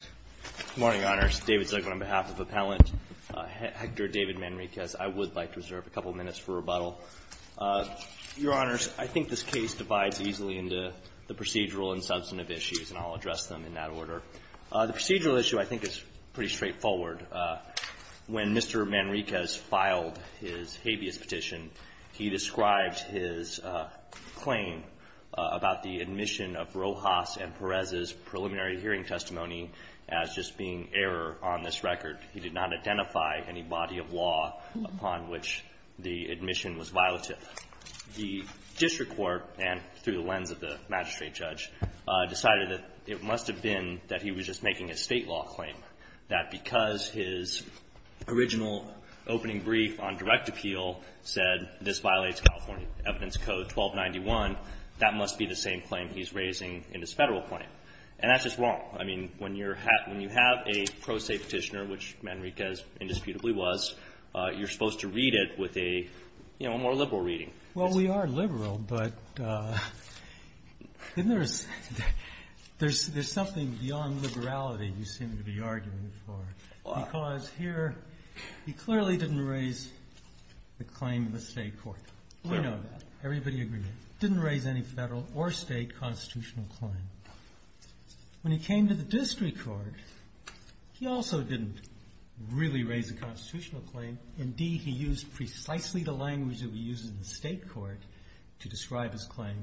Good morning, Your Honors. David Zucman on behalf of Appellant Hector David Manriquez. I would like to reserve a couple minutes for rebuttal. Your Honors, I think this case divides easily into the procedural and substantive issues, and I'll address them in that order. The procedural issue I think is pretty straightforward. When Mr. Manriquez filed his habeas petition, he described his claim about the admission of Rojas and Perez's as just being error on this record. He did not identify any body of law upon which the admission was violative. The district court, and through the lens of the magistrate judge, decided that it must have been that he was just making a state law claim, that because his original opening brief on direct appeal said this violates California Evidence Code 1291, that must be the same claim he's raising in his federal claim. And that's just wrong. I mean, when you have a pro se petitioner, which Manriquez indisputably was, you're supposed to read it with a more liberal reading. Well, we are liberal, but isn't there something beyond liberality you seem to be arguing for? Because here he clearly didn't raise the claim in the state court. We know that. Everybody agrees. He didn't raise any federal or state constitutional claim. When he came to the district court, he also didn't really raise a constitutional claim. Indeed, he used precisely the language that we use in the state court to describe his claim,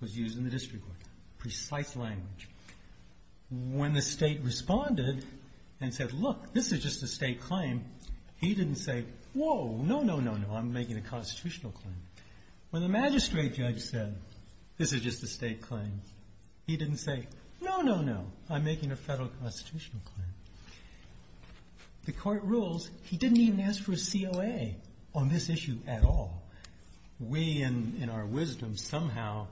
was used in the district court, precise language. When the state responded and said, look, this is just a state claim, he didn't say, whoa, no, no, no, no, I'm making a constitutional claim. When the magistrate judge said, this is just a state claim, he didn't say, no, no, no, I'm making a federal constitutional claim. The court rules he didn't even ask for a COA on this issue at all. We, in our wisdom, somehow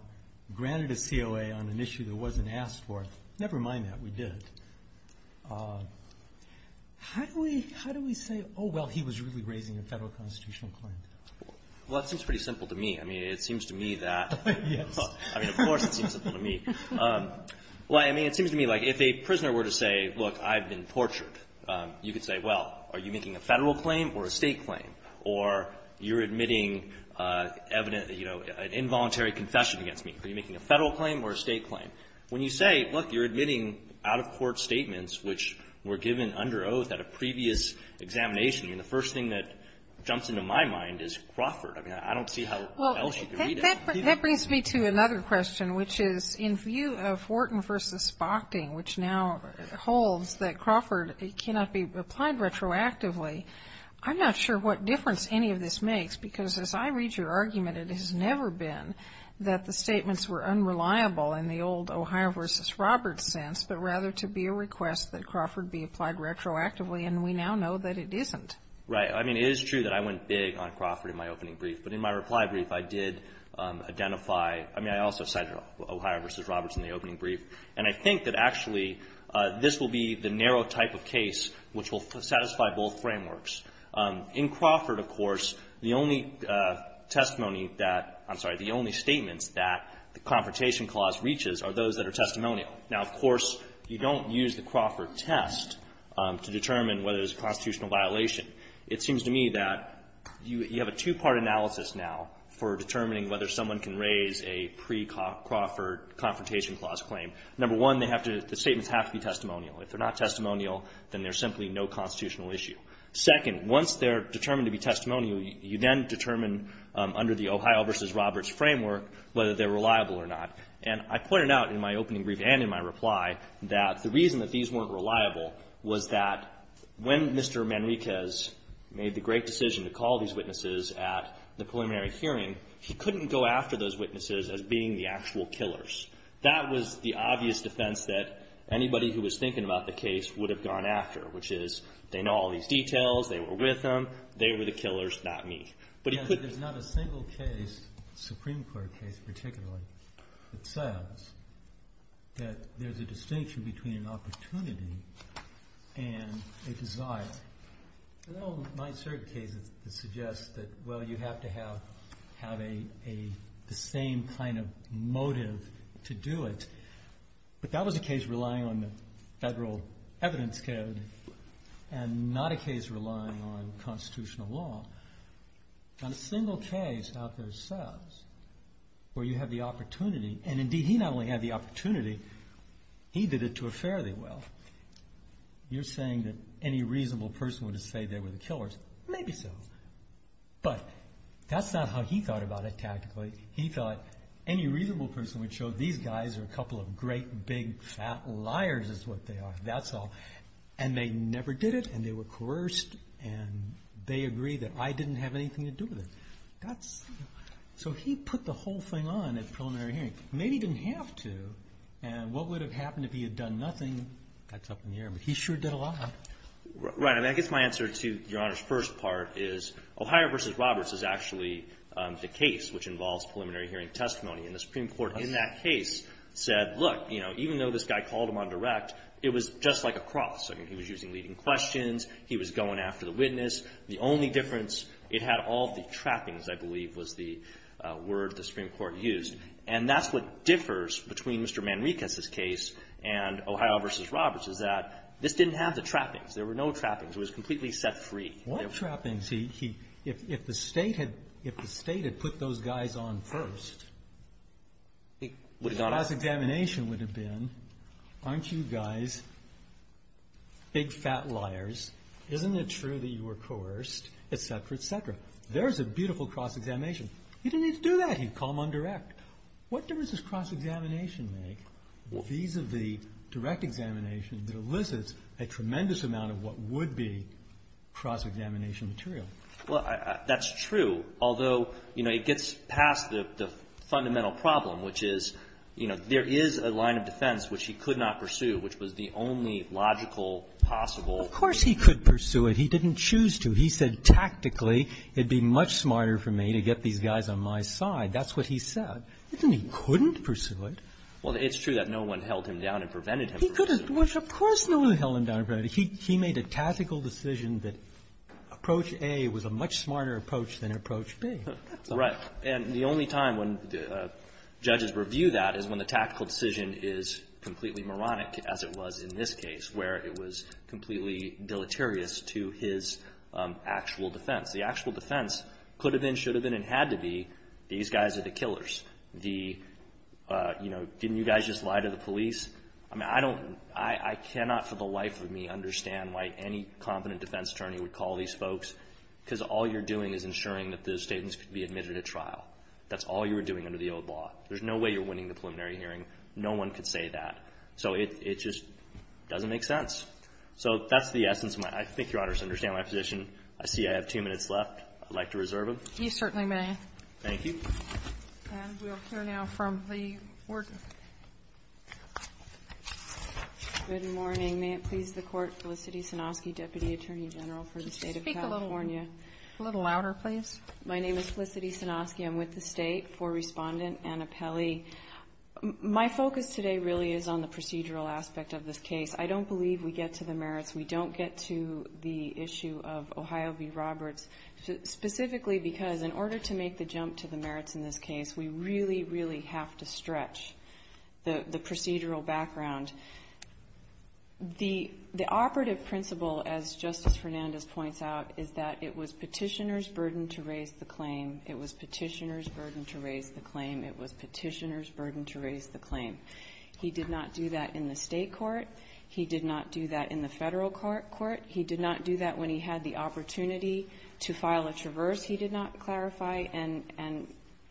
granted a COA on an issue that wasn't asked for. Never mind that, we did it. How do we say, oh, well, he was really raising a federal constitutional claim? Well, that seems pretty simple to me. I mean, it seems to me that. Yes. I mean, of course it seems simple to me. Well, I mean, it seems to me like if a prisoner were to say, look, I've been tortured, you could say, well, are you making a federal claim or a state claim? Or you're admitting evident, you know, an involuntary confession against me. Are you making a federal claim or a state claim? When you say, look, you're admitting out-of-court statements which were given under both at a previous examination, I mean, the first thing that jumps into my mind is Crawford. I mean, I don't see how else you could read it. That brings me to another question, which is in view of Wharton v. Spockting, which now holds that Crawford cannot be applied retroactively, I'm not sure what difference any of this makes, because as I read your argument, it has never been that the statements were unreliable in the old Ohio v. Roberts sense, but rather to be a request that is applied retroactively, and we now know that it isn't. Right. I mean, it is true that I went big on Crawford in my opening brief. But in my reply brief, I did identify – I mean, I also cited Ohio v. Roberts in the opening brief. And I think that actually this will be the narrow type of case which will satisfy both frameworks. In Crawford, of course, the only testimony that – I'm sorry, the only statements that the Confrontation Clause reaches are those that are testimonial. Now, of course, you don't use the Crawford test to determine whether it's a constitutional violation. It seems to me that you have a two-part analysis now for determining whether someone can raise a pre-Crawford Confrontation Clause claim. Number one, they have to – the statements have to be testimonial. If they're not testimonial, then there's simply no constitutional issue. Second, once they're determined to be testimonial, you then determine under the Ohio v. Roberts framework whether they're reliable or not. And I pointed out in my opening brief and in my reply that the reason that these weren't reliable was that when Mr. Manriquez made the great decision to call these witnesses at the preliminary hearing, he couldn't go after those witnesses as being the actual killers. That was the obvious defense that anybody who was thinking about the case would have gone after, which is they know all these details, they were with them, they were the killers, not me. There's not a single case, Supreme Court case particularly, that says that there's a distinction between an opportunity and a desire. There are certain cases that suggest that, well, you have to have the same kind of motive to do it. But that was a case relying on the federal evidence code and not a case relying on a single case out there says where you have the opportunity. And indeed, he not only had the opportunity, he did it to a fairly well. You're saying that any reasonable person would have said they were the killers. Maybe so. But that's not how he thought about it tactically. He thought any reasonable person would show these guys are a couple of great, big, fat liars is what they are, that's all. And they never did it and they were coerced and they agreed that I didn't have anything to do with it. So he put the whole thing on at preliminary hearing. Maybe he didn't have to and what would have happened if he had done nothing? That's up in the air, but he sure did a lot. Right. I guess my answer to Your Honor's first part is O'Hire v. Roberts is actually the case which involves preliminary hearing testimony. And the Supreme Court in that case said, look, even though this guy called him on direct, it was just like a cross. He was using leading questions. He was going after the witness. The only difference, it had all the trappings, I believe, was the word the Supreme Court used. And that's what differs between Mr. Manriquez's case and O'Hire v. Roberts is that this didn't have the trappings. There were no trappings. It was completely set free. What trappings? If the state had put those guys on first, the class examination would have been, aren't you guys big, fat liars? Isn't it true that you were coerced, et cetera, et cetera? There's a beautiful cross-examination. He didn't need to do that. He'd call him on direct. What difference does cross-examination make vis-à-vis direct examination that elicits a tremendous amount of what would be cross-examination material? Well, that's true, although, you know, it gets past the fundamental problem, which is, you know, there is a line of defense which he could not pursue, which was the only logical possible. Of course he could pursue it. He didn't choose to. He said, tactically, it would be much smarter for me to get these guys on my side. That's what he said. But then he couldn't pursue it. Well, it's true that no one held him down and prevented him from pursuing it. He could have. Of course no one held him down. He made a tactical decision that approach A was a much smarter approach than approach B. Right. And the only time when judges review that is when the tactical decision is completely moronic, as it was in this case, where it was completely deleterious to his actual defense. The actual defense could have been, should have been, and had to be these guys are the killers. The, you know, didn't you guys just lie to the police? I mean, I don't, I cannot for the life of me understand why any competent defense attorney would call these folks because all you're doing is ensuring that those statements could be admitted at trial. That's all you were doing under the old law. There's no way you're winning the preliminary hearing. No one could say that. So it just doesn't make sense. So that's the essence of my, I think Your Honors understand my position. I see I have two minutes left. I'd like to reserve them. You certainly may. Thank you. And we'll hear now from the warden. Good morning. May it please the Court. Felicity Sanofsky, Deputy Attorney General for the State of California. Speak a little louder, please. My name is Felicity Sanofsky. I'm with the State for Respondent Anna Pelley. My focus today really is on the procedural aspect of this case. I don't believe we get to the merits. We don't get to the issue of Ohio v. Roberts. Specifically because in order to make the jump to the merits in this case, we really, really have to stretch the procedural background. The operative principle, as Justice Hernandez points out, is that it was petitioner's burden to raise the claim. It was petitioner's burden to raise the claim. It was petitioner's burden to raise the claim. He did not do that in the state court. He did not do that in the federal court. He did not do that when he had the opportunity to file a traverse. He did not clarify. And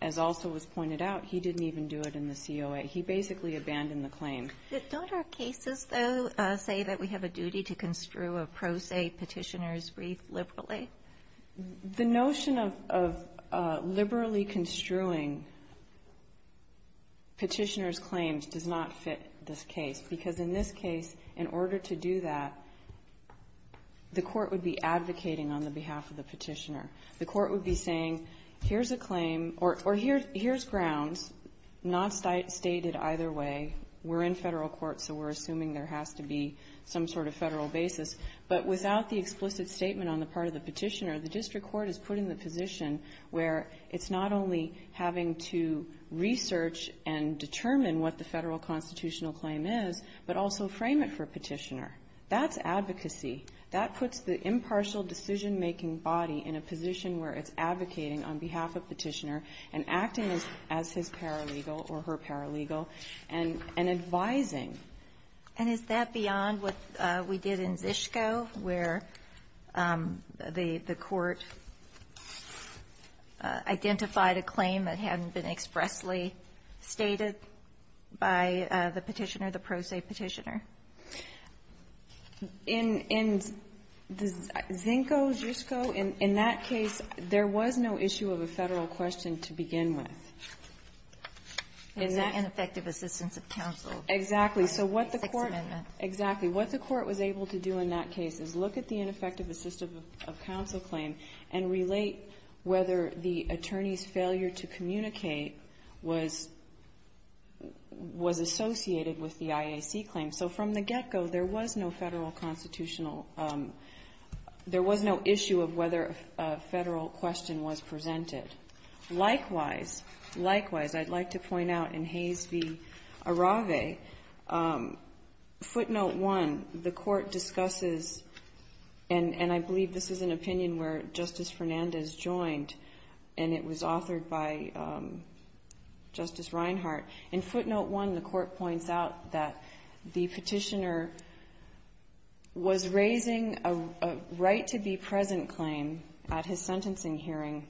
as also was pointed out, he didn't even do it in the COA. He basically abandoned the claim. Don't our cases, though, say that we have a duty to construe a pro se petitioner's brief liberally? The notion of liberally construing petitioner's claims does not fit this case, because in this case, in order to do that, the court would be advocating on the behalf of the petitioner. The court would be saying, here's a claim, or here's grounds, not stated either way. We're in Federal court, so we're assuming there has to be some sort of Federal basis. But without the explicit statement on the part of the petitioner, the district court is put in the position where it's not only having to research and determine what the Federal constitutional claim is, but also frame it for a petitioner. That's advocacy. That puts the impartial decision-making body in a position where it's advocating on behalf of petitioner and acting as his paralegal or her paralegal and advising. And is that beyond what we did in Zisko, where the court identified a claim that hadn't been expressly stated by the petitioner, the pro se petitioner? In Zinko, Zisko, in that case, there was no issue of a Federal question to begin And effective assistance of counsel. Exactly. So what the court was able to do in that case is look at the ineffective assistance of counsel claim and relate whether the attorney's failure to communicate was associated with the IAC claim. So from the get-go, there was no issue of whether a Federal question was presented. Likewise, likewise, I'd like to point out in Hayes v. Arave, footnote 1, the court discusses, and I believe this is an opinion where Justice Fernandez joined, and it was authored by Justice Reinhart. In footnote 1, the court points out that the petitioner was raising a right-to-be-present claim at his sentencing hearing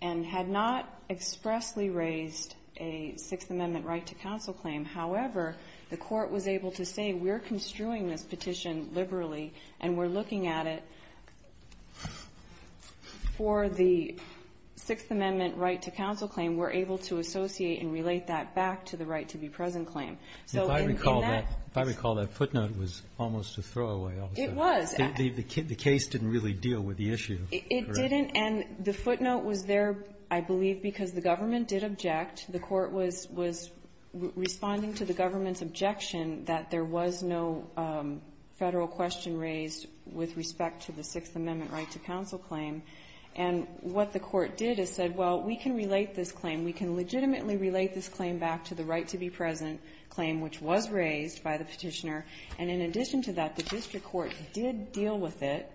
and had not expressly raised a Sixth Amendment right-to-counsel claim. However, the court was able to say, we're construing this petition liberally and we're looking at it. For the Sixth Amendment right-to-counsel claim, we're able to associate and relate that back to the right-to-be-present claim. So in that case ---- If I recall, that footnote was almost a throwaway. It was. The case didn't really deal with the issue. It didn't. And the footnote was there, I believe, because the government did object. The court was responding to the government's objection that there was no Federal question raised with respect to the Sixth Amendment right-to-counsel claim. And what the court did is said, well, we can relate this claim. We can legitimately relate this claim back to the right-to-be-present claim, which was raised by the petitioner. And in addition to that, the district court did deal with it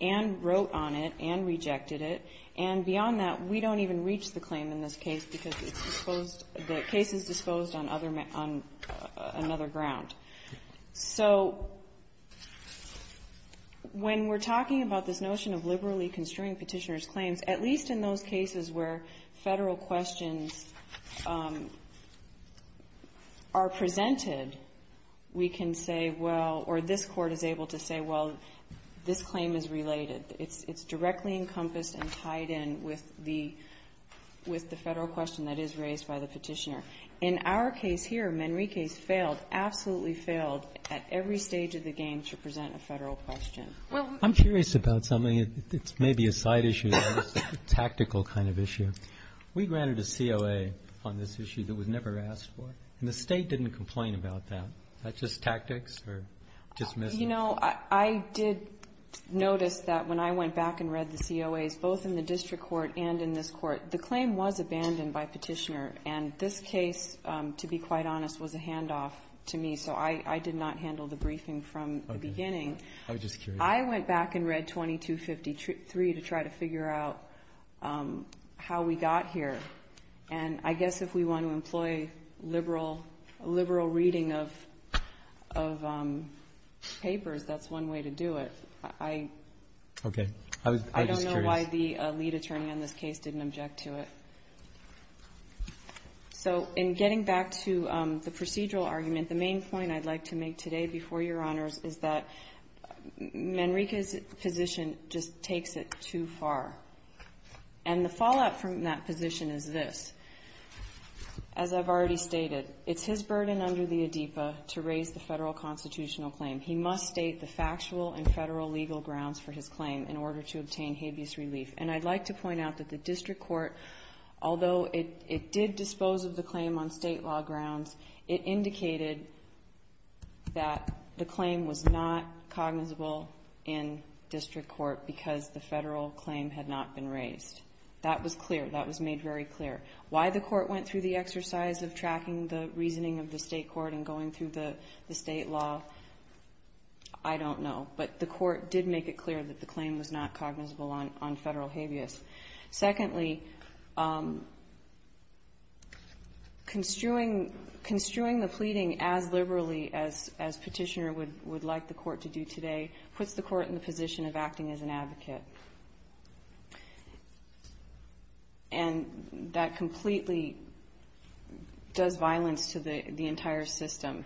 and wrote on it and rejected it. And beyond that, we don't even reach the claim in this case because it's disposed ---- the case is disposed on other ---- on another ground. So when we're talking about this notion of liberally construing Petitioner's claims, at least in those cases where Federal questions are presented, we can say well, or this court is able to say, well, this claim is related. It's directly encompassed and tied in with the Federal question that is raised by the petitioner. In our case here, Manrique's failed, absolutely failed at every stage of the game to present a Federal question. I'm curious about something that's maybe a side issue, a tactical kind of issue. We granted a COA on this issue that was never asked for, and the State didn't complain about that. Is that just tactics or dismissal? You know, I did notice that when I went back and read the COAs, both in the district court and in this court, the claim was abandoned by Petitioner. And this case, to be quite honest, was a handoff to me. So I did not handle the briefing from the beginning. I was just curious. I went back and read 2253 to try to figure out how we got here. And I guess if we want to employ liberal reading of papers, that's one way to do it. I don't know why the lead attorney on this case didn't object to it. So in getting back to the procedural argument, the main point I'd like to make today before Your Honors is that Manrique's position just takes it too far. And the fallout from that position is this. As I've already stated, it's his burden under the ADEPA to raise the federal constitutional claim. He must state the factual and federal legal grounds for his claim in order to obtain habeas relief. And I'd like to point out that the district court, although it did dispose of the claim on state law grounds, it indicated that the claim was not cognizable in that it had not been raised. That was clear. That was made very clear. Why the court went through the exercise of tracking the reasoning of the state court and going through the state law, I don't know. But the court did make it clear that the claim was not cognizable on federal habeas. Secondly, construing the pleading as liberally as Petitioner would like the court to do today puts the court in the position of acting as an advocate. And that completely does violence to the entire system.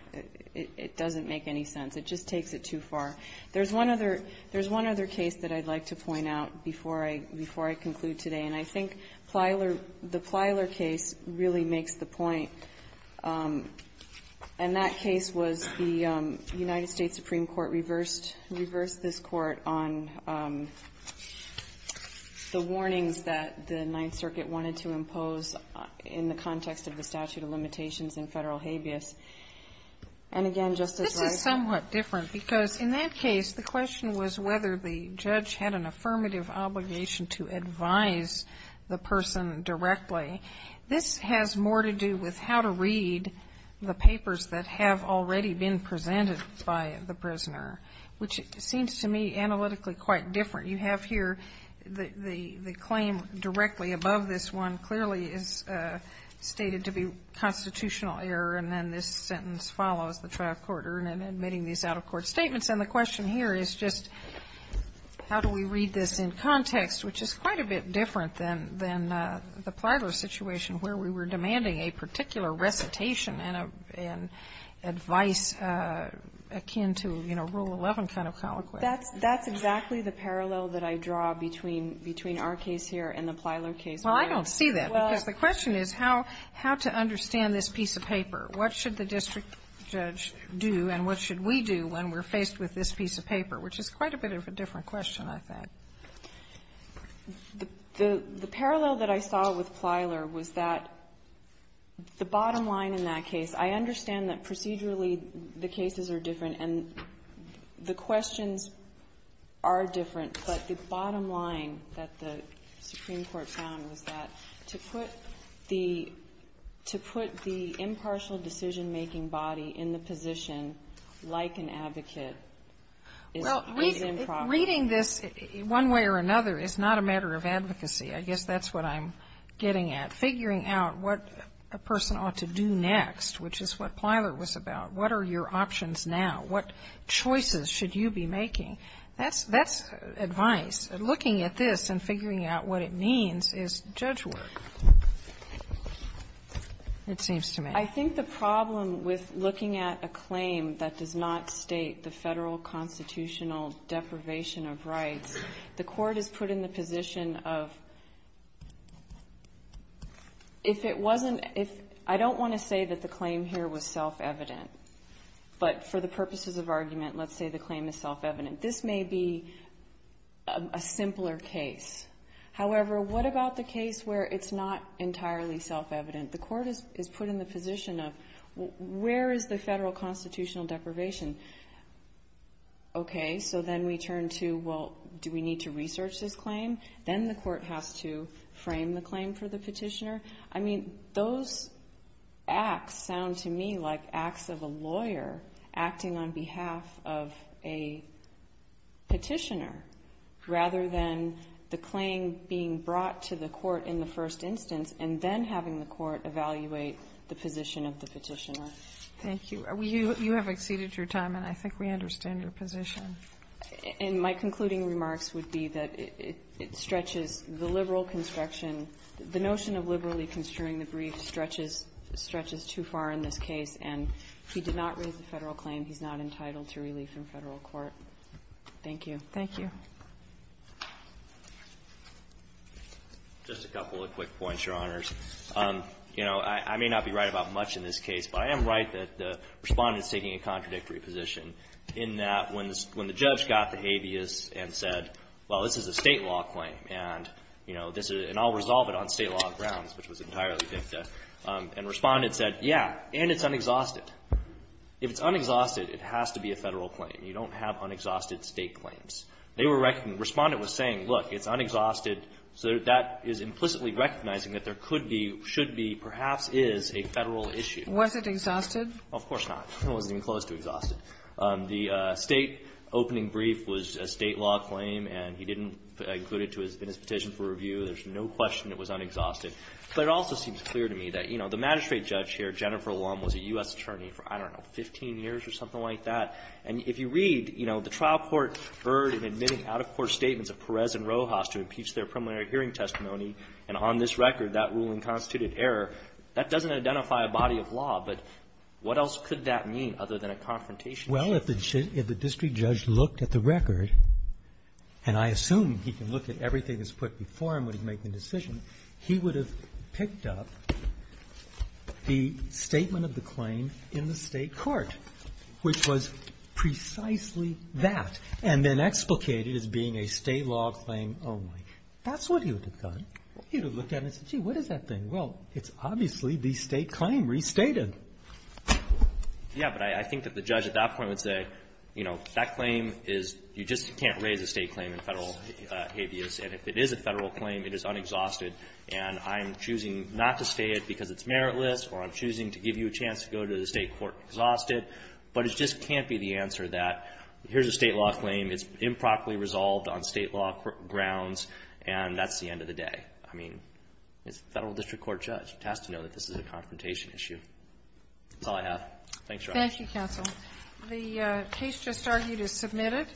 It doesn't make any sense. It just takes it too far. There's one other case that I'd like to point out before I conclude today. And I think the Plyler case really makes the point. And that case was the United States Supreme Court reversed this court on the warnings that the Ninth Circuit wanted to impose in the context of the statute of limitations in federal habeas. And again, Justice Breyer ---- Sotomayor, this is somewhat different, because in that case, the question was whether the judge had an affirmative obligation to advise the person directly. This has more to do with how to read the papers that have already been presented by the prisoner, which seems to me analytically quite different. You have here the claim directly above this one clearly is stated to be constitutional error, and then this sentence follows the trial court in admitting these out-of-court statements. And the question here is just how do we read this in context, which is quite a bit different than the Plyler situation where we were demanding a particular recitation and advice akin to, you know, Rule 11 kind of colloquy. That's exactly the parallel that I draw between our case here and the Plyler case. Well, I don't see that, because the question is how to understand this piece of paper. What should the district judge do, and what should we do when we're faced with this piece of paper, which is quite a bit of a different question, I think. The parallel that I saw with Plyler was that the bottom line in that case, I understand that procedurally the cases are different and the questions are different, but the decision-making body in the position like an advocate is improper. Well, reading this one way or another is not a matter of advocacy. I guess that's what I'm getting at. Figuring out what a person ought to do next, which is what Plyler was about. What are your options now? What choices should you be making? That's advice. Looking at this and figuring out what it means is judge work, it seems to me. I think the problem with looking at a claim that does not state the Federal constitutional deprivation of rights, the Court is put in the position of if it wasn't — I don't want to say that the claim here was self-evident, but for the purposes of argument, let's say the claim is self-evident. This may be a simpler case. However, what about the case where it's not entirely self-evident? The Court is put in the position of where is the Federal constitutional deprivation? Okay, so then we turn to, well, do we need to research this claim? Then the Court has to frame the claim for the petitioner. I mean, those acts sound to me like acts of a lawyer acting on behalf of a petitioner rather than the claim being brought to the Court in the first instance and then having the Court evaluate the position of the petitioner. Thank you. You have exceeded your time, and I think we understand your position. And my concluding remarks would be that it stretches the liberal construction — the notion of liberally construing the brief stretches too far in this case, and he did not raise a Federal claim. He's not entitled to relief in Federal court. Thank you. Thank you. Just a couple of quick points, Your Honors. You know, I may not be right about much in this case, but I am right that the Respondent is taking a contradictory position in that when the judge got the habeas and said, well, this is a State law claim, and I'll resolve it on State law grounds, which was entirely fictive, and Respondent said, yeah, and it's unexhausted. If it's unexhausted, it has to be a Federal claim. You don't have unexhausted State claims. They were — Respondent was saying, look, it's unexhausted, so that is implicitly recognizing that there could be, should be, perhaps is a Federal issue. Was it exhausted? Of course not. It wasn't even close to exhausted. The State opening brief was a State law claim, and he didn't include it in his petition for review. There's no question it was unexhausted. But it also seems clear to me that, you know, the magistrate judge here, Jennifer Lum, was a U.S. attorney for, I don't know, 15 years or something like that. And if you read, you know, the trial court erred in admitting out-of-court statements of Perez and Rojas to impeach their preliminary hearing testimony, and on this record, that ruling constituted error. That doesn't identify a body of law, but what else could that mean other than a confrontation case? Roberts. Well, if the district judge looked at the record, and I assume he can look at everything that's put before him when he's making a decision, he would have picked up the statement of the claim in the State court, which was precisely that, and then explicated as being a State law claim only. That's what he would have done. He would have looked at it and said, gee, what is that thing? Well, it's obviously the State claim restated. Yeah, but I think that the judge at that point would say, you know, that claim is you just can't raise a State claim in Federal habeas. And if it is a Federal claim, it is unexhausted. And I'm choosing not to state it because it's meritless, or I'm choosing to give you a chance to go to the State court exhausted, but it just can't be the answer that here's a State law claim, it's improperly resolved on State law grounds, and that's the end of the day. I mean, it's a Federal district court judge. It has to know that this is a confrontation issue. That's all I have. Thanks, Your Honor. Thank you, counsel. The case just argued is submitted.